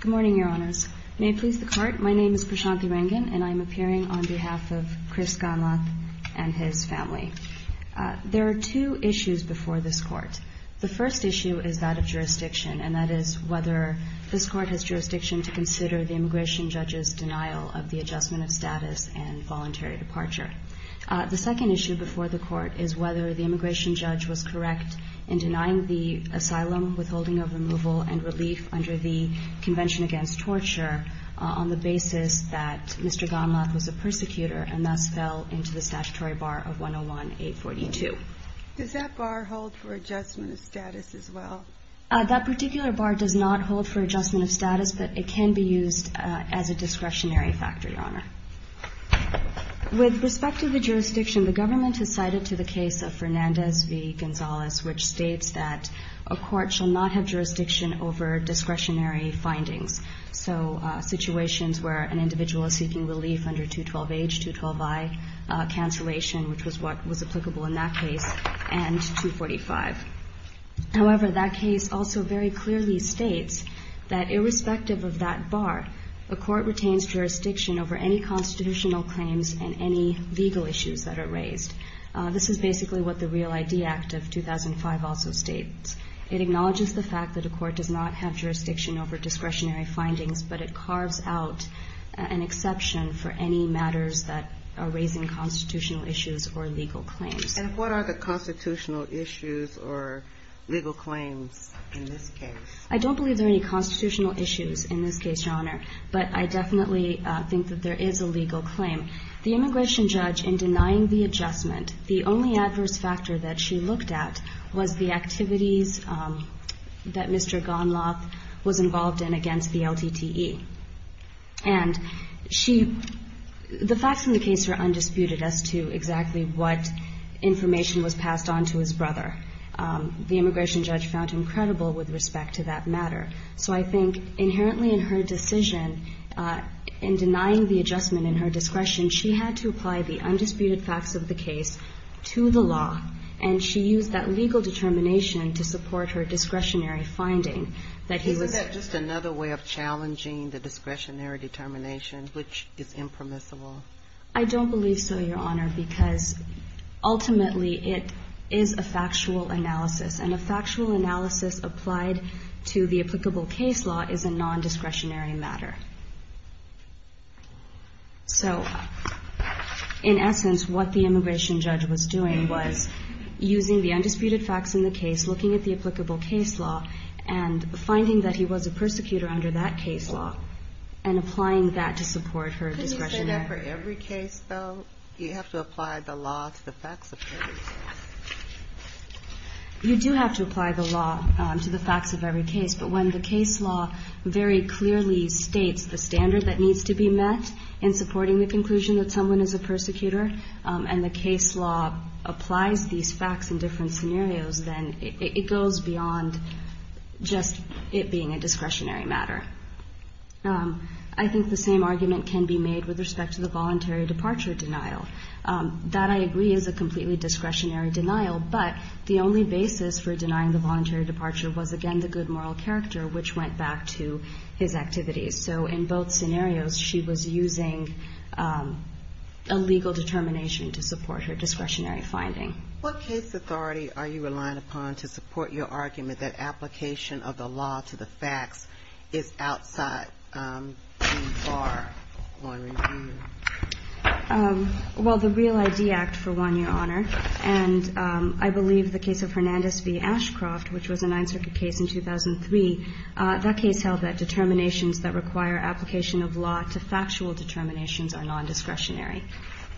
Good morning, Your Honors. May it please the Court, my name is Prashanthi Rangan and I'm appearing on behalf of Chris Gonlath and his family. There are two issues before this Court. The first issue is that of jurisdiction, and that is whether this Court has jurisdiction to consider the immigration judge's denial of the adjustment of status and voluntary departure. The second issue before the Court is whether the immigration judge was correct in denying the asylum withholding of removal and relief under the Convention Against Torture on the basis that Mr. Gonlath was a persecutor and thus fell into the statutory bar of 101-842. Does that bar hold for adjustment of status as well? That particular bar does not hold for adjustment of status, but it can be used as a discretionary factor, Your Honor. With respect to the jurisdiction, the government has cited to the case of Fernandez v. Gonzales, which states that a court shall not have jurisdiction over discretionary findings. So situations where an individual is seeking relief under 212-H, 212-I, cancellation, which was what was applicable in that case, and 245. However, that case also very clearly states that irrespective of that bar, a court retains jurisdiction over any constitutional claims and any legal issues that are raised. This is basically what the Real ID Act of 2005 also states. It acknowledges the fact that a court does not have jurisdiction over discretionary findings, but it carves out an exception for any matters that are raising constitutional issues or legal claims. And what are the constitutional issues or legal claims in this case? I don't believe there are any constitutional issues in this case, Your Honor, but I definitely think that there is a legal claim. The immigration judge, in denying the adjustment, the only adverse factor that she looked at was the activities that Mr. Gonlath was involved in against the LTTE. And she – the facts in the case are undisputed as to exactly what information was passed on to his brother. The immigration judge found him credible with respect to that matter. So I think inherently in her decision, in denying the adjustment in her discretion, she had to apply the undisputed facts of the case to the law, and she used that legal determination to support her discretionary finding. Isn't that just another way of challenging the discretionary determination, which is impermissible? I don't believe so, Your Honor, because ultimately it is a factual analysis. And a factual analysis applied to the applicable case law is a non-discretionary matter. So in essence, what the immigration judge was doing was using the undisputed facts in the case, looking at the applicable case law, and finding that he was a persecutor under that case law, and applying that to support her discretionary – Couldn't you say that for every case, though? You have to apply the law to the facts of every case. You do have to apply the law to the facts of every case, but when the case law very clearly states the standard that needs to be met in supporting the conclusion that someone is a persecutor, and the case law applies these facts in different scenarios, then it goes beyond just it being a discretionary matter. I think the same argument can be made with respect to the voluntary departure denial. That, I agree, is a completely discretionary denial, but the only basis for denying the voluntary departure was, again, the good moral character, which went back to his activities. So in both scenarios, she was using a legal determination to support her discretionary finding. What case authority are you relying upon to support your argument that application of the law to the facts is outside the bar on review? Well, the Real ID Act, for one, Your Honor, and I believe the case of Hernandez v. Ashcroft, which was a Ninth Circuit case in 2003, that case held that determinations that require application of law to factual determinations are nondiscretionary.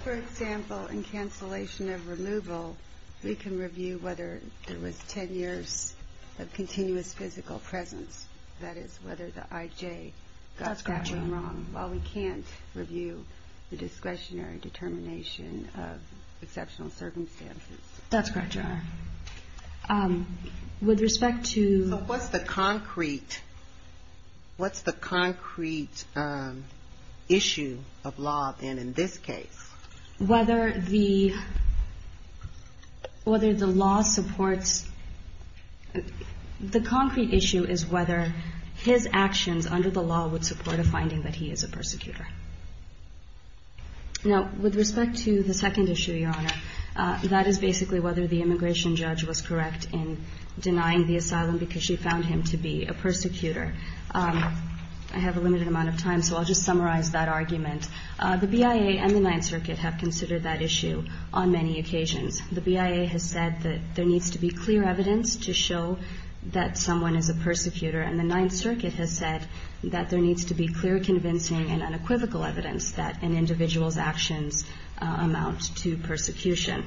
For example, in cancellation of removal, we can review whether there was 10 years of continuous physical presence, that is, whether the I.J. got that wrong, while we can't review the discretionary determination of exceptional circumstances. That's correct, Your Honor. With respect to... So what's the concrete issue of law, then, in this case? Whether the law supports... The concrete issue is whether his actions under the law would support a finding that he is a persecutor. Now, with respect to the second issue, Your Honor, that is basically whether the immigration judge was correct in denying the asylum because she found him to be a persecutor. I have a limited amount of time, so I'll just summarize that argument. The BIA and the Ninth Circuit have considered that issue on many occasions. The BIA has said that there needs to be clear evidence to show that someone is a persecutor, and the Ninth Circuit has said that there needs to be clear, convincing, and unequivocal evidence that an individual's actions amount to persecution.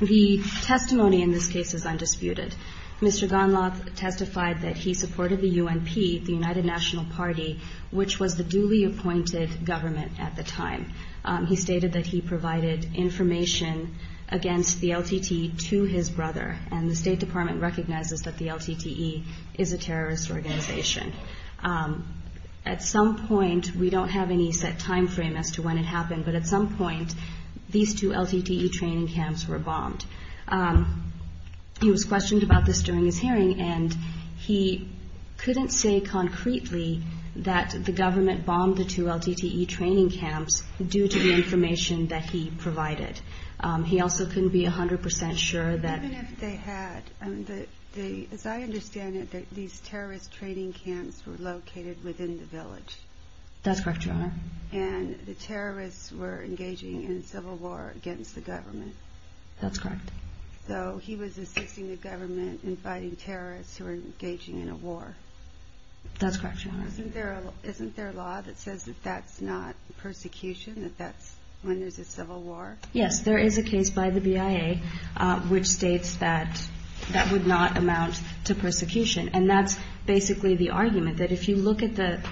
The testimony in this case is undisputed. Mr. Gonlath testified that he supported the U.N.P., the United National Party, which was the duly appointed government at the time. He stated that he provided information against the LTTE to his brother, and the State Department recognizes that the LTTE is a terrorist organization. At some point, we don't have any set timeframe as to when it happened, but at some point, these two LTTE training camps were bombed. He was questioned about this during his hearing, and he couldn't say concretely that the government bombed the two LTTE training camps due to the information that he provided. He also couldn't be 100% sure that... Even if they had, as I understand it, these terrorist training camps were located within the village. That's correct, Your Honor. And the terrorists were engaging in civil war against the government. That's correct. So he was assisting the government in fighting terrorists who were engaging in a war. That's correct, Your Honor. Isn't there a law that says that that's not persecution, that that's when there's a civil war? Yes, there is a case by the BIA which states that that would not amount to persecution. And that's basically the argument, that if you look at the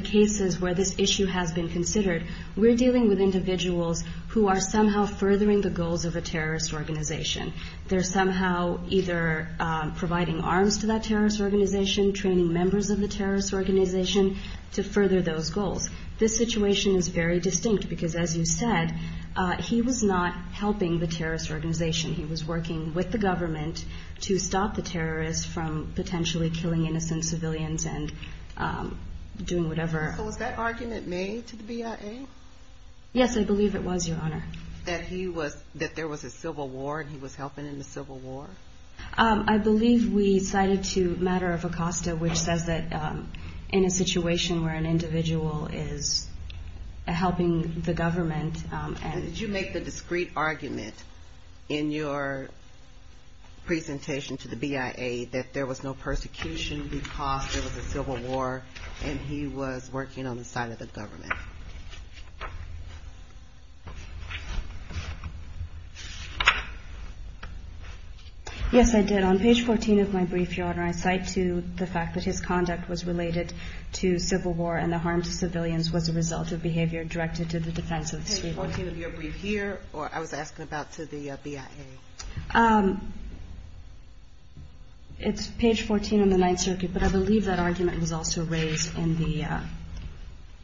cases where this issue has been considered, we're dealing with individuals who are somehow furthering the goals of a terrorist organization. They're somehow either providing arms to that terrorist organization, training members of the terrorist organization to further those goals. This situation is very distinct, because as you said, he was not helping the terrorist organization. He was working with the government to stop the terrorists from potentially killing innocent civilians and doing whatever... So was that argument made to the BIA? Yes, I believe it was, Your Honor. That he was, that there was a civil war and he was helping in the civil war? I believe we cited to a matter of ACOSTA, which says that in a situation where an individual is helping the government... Did you make the discrete argument in your presentation to the BIA that there was no persecution because there was a civil war and he was working on the side of the government? Yes, I did. On page 14 of my brief, Your Honor, I cite to the fact that his conduct was related to civil war and the harm to civilians was a result of behavior directed to the defense of the... Page 14 of your brief here, or I was asking about to the BIA? It's page 14 in the Ninth Circuit, but I believe that argument was also raised in the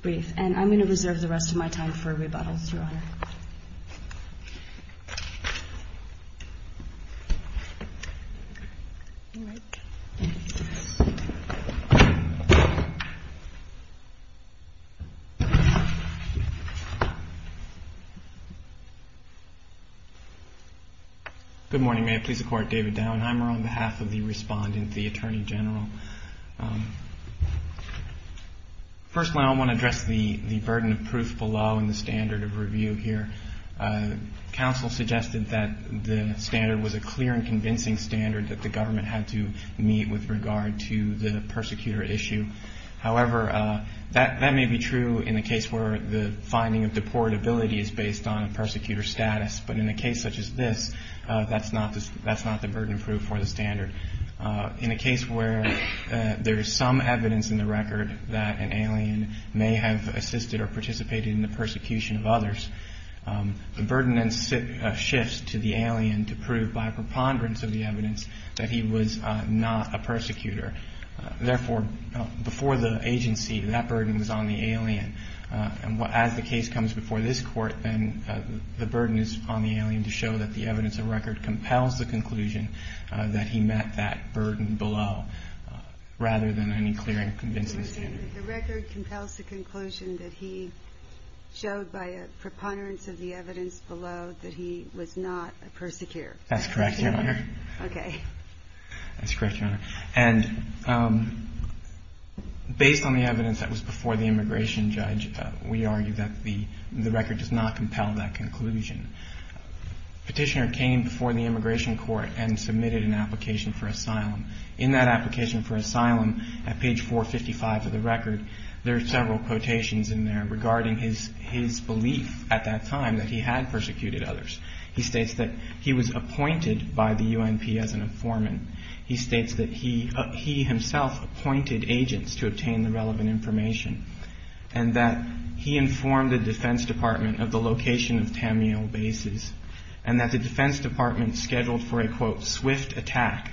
brief. And I'm going to reserve the rest of my time for rebuttals, Your Honor. Good morning. May it please the Court, David Dauenheimer on behalf of the respondent, the Attorney General. Firstly, I want to address the burden of proof below in the standard of review here. Counsel suggested that the standard was a clear and convincing standard that the government had to meet with regard to the persecutor issue. However, that may be true in a case where the finding of deportability is based on a persecutor status, but in a case such as this, that's not the burden of proof for the standard. In a case where there is some evidence in the record that an alien may have assisted or participated in the persecution of others, the burden then shifts to the alien to prove by preponderance of the evidence that he was not a persecutor. Therefore, before the agency, that burden was on the alien. And as the case comes before this Court, then the burden is on the alien to show that the evidence of record compels the conclusion that he met that burden below rather than any clear and convincing standard. So you're saying that the record compels the conclusion that he showed by a preponderance of the evidence below that he was not a persecutor? That's correct, Your Honor. Okay. That's correct, Your Honor. And based on the evidence that was before the immigration judge, we argue that the record does not compel that conclusion. Petitioner's came before the immigration court and submitted an application for asylum. In that application for asylum, at page 455 of the record, there are several quotations in there regarding his belief at that time that he had persecuted others. He states that he was appointed by the UNP as an informant. He states that he himself appointed agents to obtain the relevant information and that he informed the Defense Department of the location of Tamil bases and that the Defense Department scheduled for a, quote, swift attack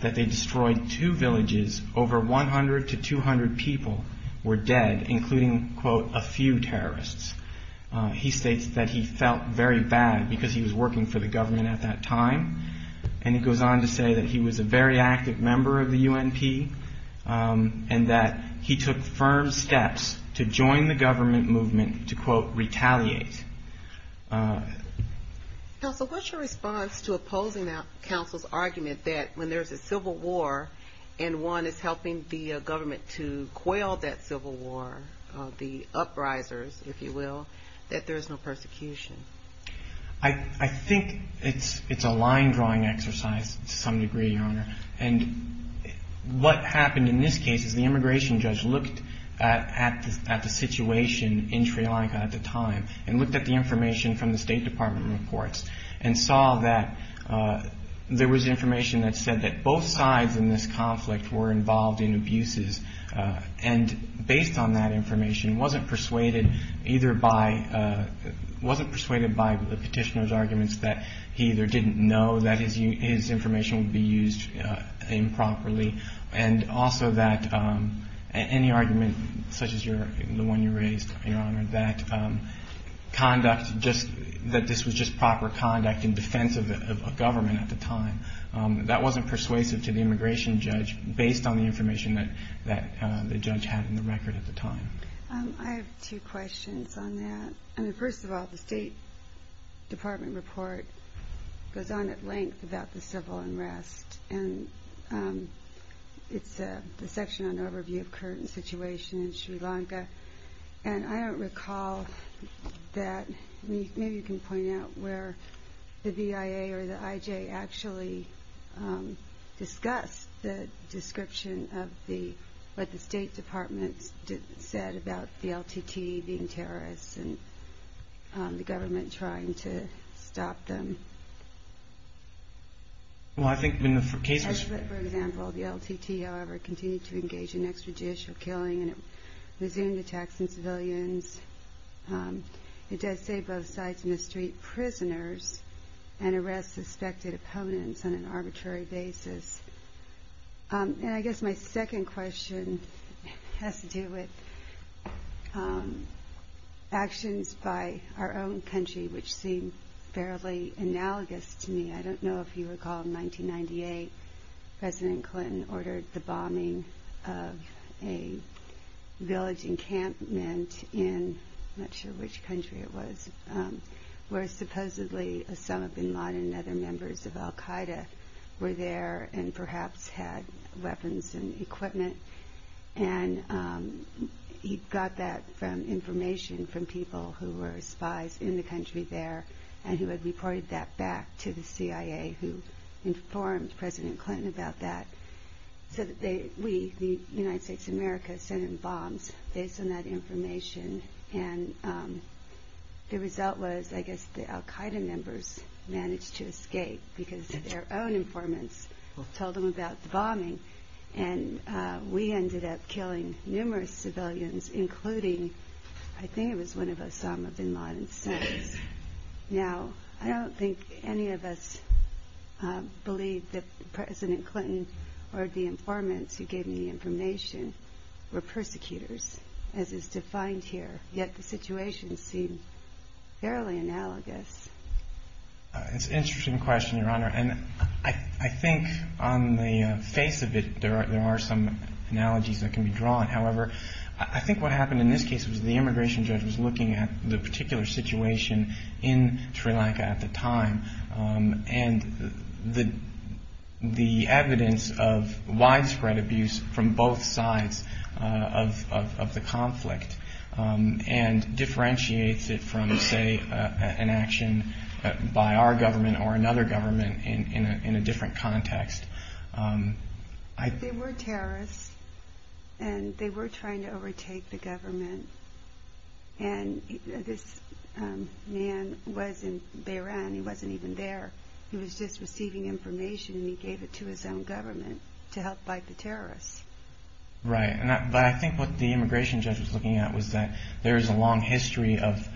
that they destroyed two villages. Over 100 to 200 people were dead, including, quote, a few terrorists. He states that he felt very bad because he was working for the government at that time. And he goes on to say that he was a very active member of the UNP and that he took firm steps to join the government movement to, quote, retaliate. Counsel, what's your response to opposing that counsel's argument that when there's a civil war and one is helping the government to quell that civil war, the uprisers, if you will, that there is no persecution? I think it's a line drawing exercise to some degree, Your Honor. And what happened in this case is the immigration judge looked at the situation in Sri Lanka at the time and looked at the information from the State Department reports and saw that there was information that said that both sides in this conflict were involved in abuses. And based on that information, wasn't persuaded either by, wasn't persuaded by the petitioner's arguments that he either didn't know that his information would be used improperly and also that any argument such as the one you raised, Your Honor, that conduct, that this was just proper conduct in defense of government at the time, that wasn't persuasive to the immigration judge based on the information that the judge had in the record at the time. I have two questions on that. I mean, first of all, the State Department report goes on at length about the civil unrest. And it's the section on overview of current situation in Sri Lanka. And I don't recall that, maybe you can point out where the BIA or the IJ actually discussed the description of the, what the State Department said about the LTT being terrorists and the government trying to stop them. Well, I think when the case was... For example, the LTT, however, continued to engage in extrajudicial killing and resumed attacks on civilians. It does say both sides in the street, prisoners and arrest suspected opponents on an arbitrary basis. And I guess my second question has to do with actions by our own country, which seem fairly analogous to me. I don't know if you recall in 1998, President Clinton ordered the bombing of a village encampment in, I'm not sure which country it was, where supposedly some of the modern members of Al-Qaeda were there and perhaps had weapons and equipment. And he got that information from people who were spies in the country there and who had reported that back to the CIA who informed President Clinton about that. So we, the United States of America, sent him bombs based on that information. And the result was, I guess, the Al-Qaeda members managed to escape because their own informants told them about the bombing. And we ended up killing numerous civilians, including, I think it was one of Osama bin Laden's sons. Now, I don't think any of us believe that President Clinton or the informants who gave me the information were persecutors, as is defined here. Yet the situation seemed fairly analogous. It's an interesting question, Your Honor. And I think on the face of it, there are some analogies that can be drawn. However, I think what happened in this case was the immigration judge was looking at the particular situation in Sri Lanka at the time and the evidence of widespread abuse from both sides of the conflict and differentiates it from, say, an action by our government or another government in a different context. They were terrorists, and they were trying to overtake the government. And this man was in Beiran. He wasn't even there. He was just receiving information, and he gave it to his own government to help fight the terrorists. Right. But I think what the immigration judge was looking at was that there is a long history of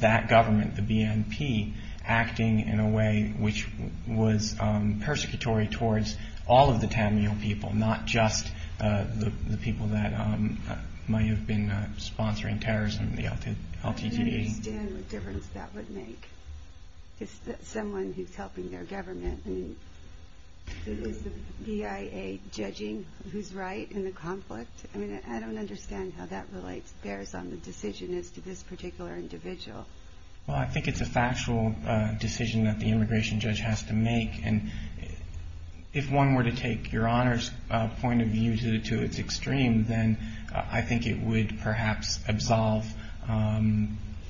that government, the BNP, acting in a way which was persecutory towards all of the Tamil people, not just the people that might have been sponsoring terrorism, the LTTE. I don't understand what difference that would make to someone who's helping their government. I mean, is the BIA judging who's right in the conflict? I mean, I don't understand how that relates, bears on the decision as to this particular individual. Well, I think it's a factual decision that the immigration judge has to make. And if one were to take Your Honor's point of view to its extreme, then I think it would perhaps absolve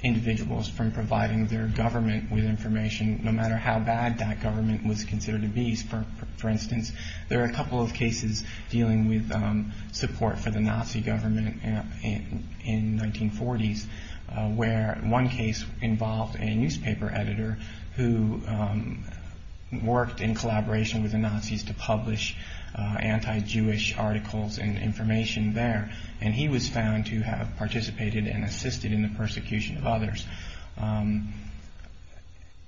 individuals from providing their government with information, no matter how bad that government was considered a beast. For instance, there are a couple of cases dealing with support for the Nazi government in the 1940s, where one case involved a newspaper editor who worked in collaboration with the Nazis to publish anti-Jewish articles and information there. And he was found to have participated and assisted in the persecution of others.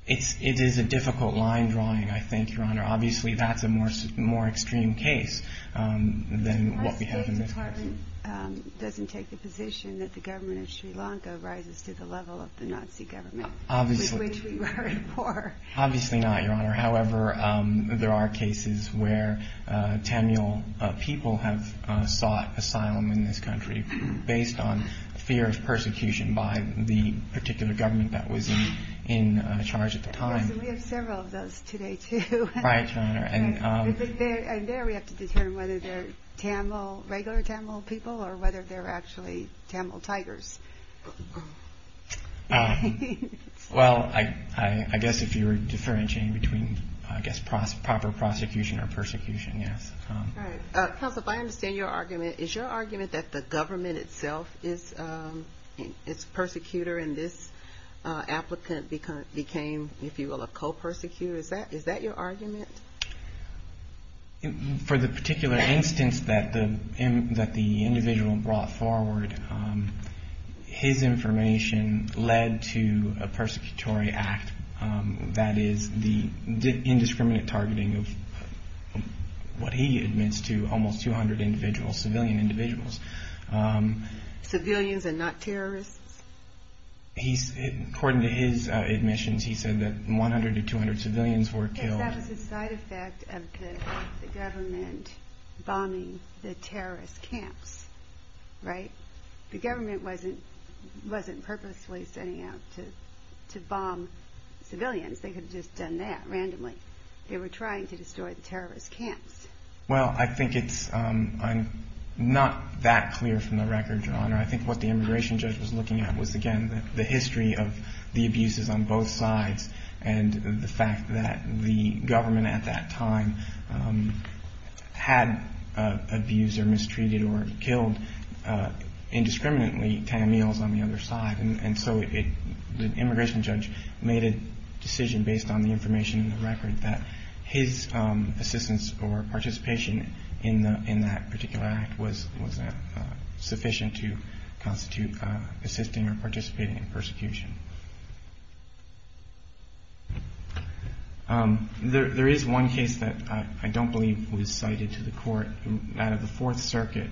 It is a difficult line drawing, I think, Your Honor. Obviously, that's a more extreme case than what we have in this case. The State Department doesn't take the position that the government of Sri Lanka rises to the level of the Nazi government. Obviously not, Your Honor. However, there are cases where Tamil people have sought asylum in this country based on fear of persecution by the particular government that was in charge at the time. We have several of those today, too. Right, Your Honor. And there we have to determine whether they're regular Tamil people or whether they're actually Tamil tigers. Well, I guess if you were differentiating between, I guess, proper prosecution or persecution, yes. All right. Counsel, if I understand your argument, is your argument that the government itself is a persecutor and this applicant became, if you will, a co-persecutor? Is that your argument? For the particular instance that the individual brought forward, his information led to a persecutory act. That is the indiscriminate targeting of what he admits to almost 200 individuals, civilian individuals. Civilians and not terrorists? According to his admissions, he said that 100 to 200 civilians were killed. I guess that was a side effect of the government bombing the terrorist camps, right? The government wasn't purposely setting out to bomb civilians. They could have just done that randomly. They were trying to destroy the terrorist camps. Well, I think it's not that clear from the record, Your Honor. I think what the immigration judge was looking at was, again, the history of the abuses on both sides and the fact that the government at that time had abused or mistreated or killed indiscriminately Tamils on the other side. And so the immigration judge made a decision based on the information in the record that his assistance or participation in that particular act was sufficient to constitute assisting or participating in persecution. There is one case that I don't believe was cited to the court. It's out of the Fourth Circuit.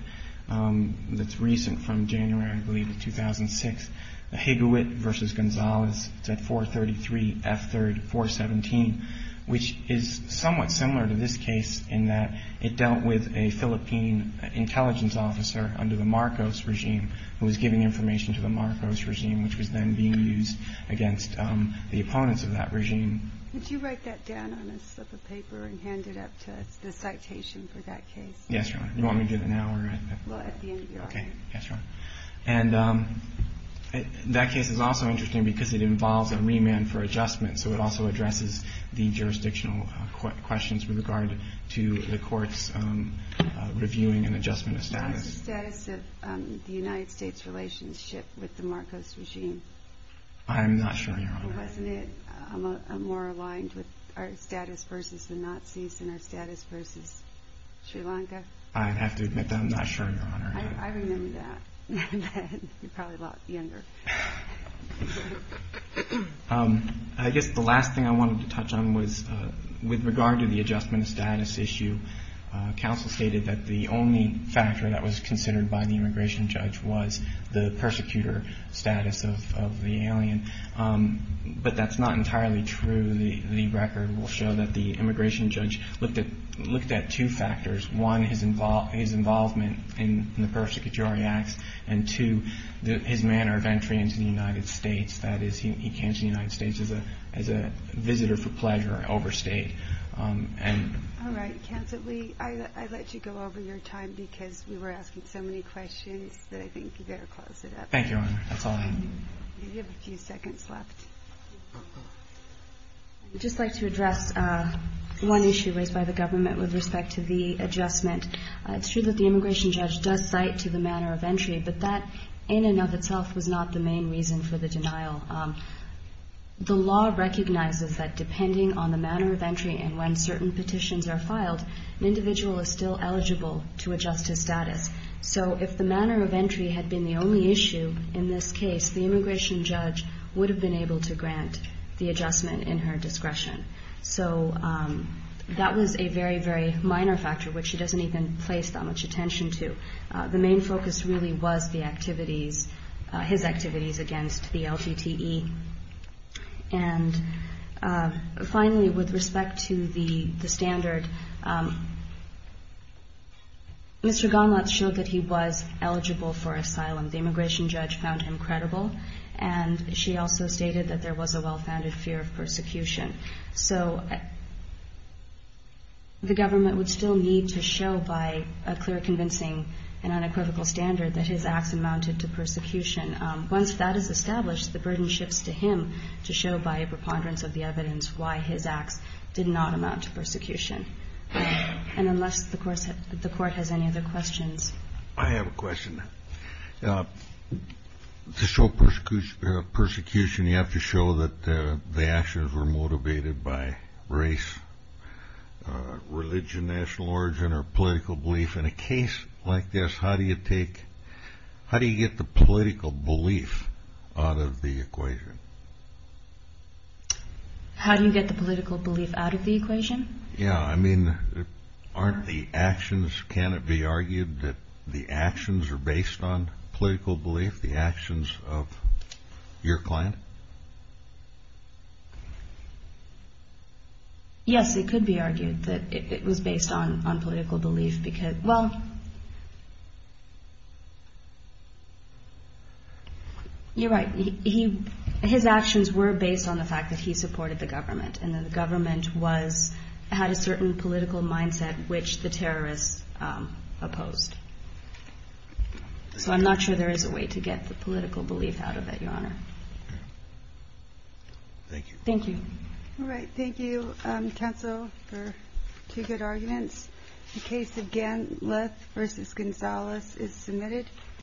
It's recent from January, I believe, of 2006. Higawit v. Gonzalez at 433 F. 3rd 417, which is somewhat similar to this case in that it dealt with a Philippine intelligence officer under the Marcos regime who was giving information to the Marcos regime, which was then being used against the opponents of that regime. Could you write that down on a slip of paper and hand it up to the citation for that case? Yes, Your Honor. You want me to do that now? Well, at the end of your argument. Okay. Yes, Your Honor. And that case is also interesting because it involves a remand for adjustment, so it also addresses the jurisdictional questions with regard to the court's reviewing and adjustment of status. What was the status of the United States' relationship with the Marcos regime? I'm not sure, Your Honor. Wasn't it more aligned with our status versus the Nazis and our status versus Sri Lanka? I have to admit that I'm not sure, Your Honor. I remember that. You're probably a lot younger. I guess the last thing I wanted to touch on was with regard to the adjustment of status issue. Counsel stated that the only factor that was considered by the immigration judge was the persecutor status of the alien, but that's not entirely true. The record will show that the immigration judge looked at two factors. One, his involvement in the persecutory acts, and two, his manner of entry into the United States. That is, he came to the United States as a visitor for pleasure and overstayed. All right. Counsel, I let you go over your time because we were asking so many questions that I think you better close it up. Thank you, Your Honor. That's all I have. You have a few seconds left. I would just like to address one issue raised by the government with respect to the adjustment. It's true that the immigration judge does cite to the manner of entry, but that in and of itself was not the main reason for the denial. The law recognizes that depending on the manner of entry and when certain petitions are filed, an individual is still eligible to adjust his status. So if the manner of entry had been the only issue in this case, the immigration judge would have been able to grant the adjustment in her discretion. So that was a very, very minor factor, which she doesn't even place that much attention to. The main focus really was the activities, his activities against the LGTE. And finally, with respect to the standard, Mr. Gonlatz showed that he was eligible for asylum. The immigration judge found him credible, and she also stated that there was a well-founded fear of persecution. So the government would still need to show by a clear, convincing and unequivocal standard that his acts amounted to persecution. Once that is established, the burden shifts to him to show by a preponderance of the evidence why his acts did not amount to persecution. And unless the court has any other questions. I have a question. To show persecution, you have to show that the actions were motivated by race, religion, national origin or political belief. In a case like this, how do you get the political belief out of the equation? How do you get the political belief out of the equation? Yeah, I mean, aren't the actions, can it be argued that the actions are based on political belief, the actions of your client? Yes, it could be argued that it was based on political belief because, well, you're right. His actions were based on the fact that he supported the government, and the government had a certain political mindset which the terrorists opposed. So I'm not sure there is a way to get the political belief out of it, Your Honor. Thank you. Thank you. All right, thank you, counsel, for two good arguments.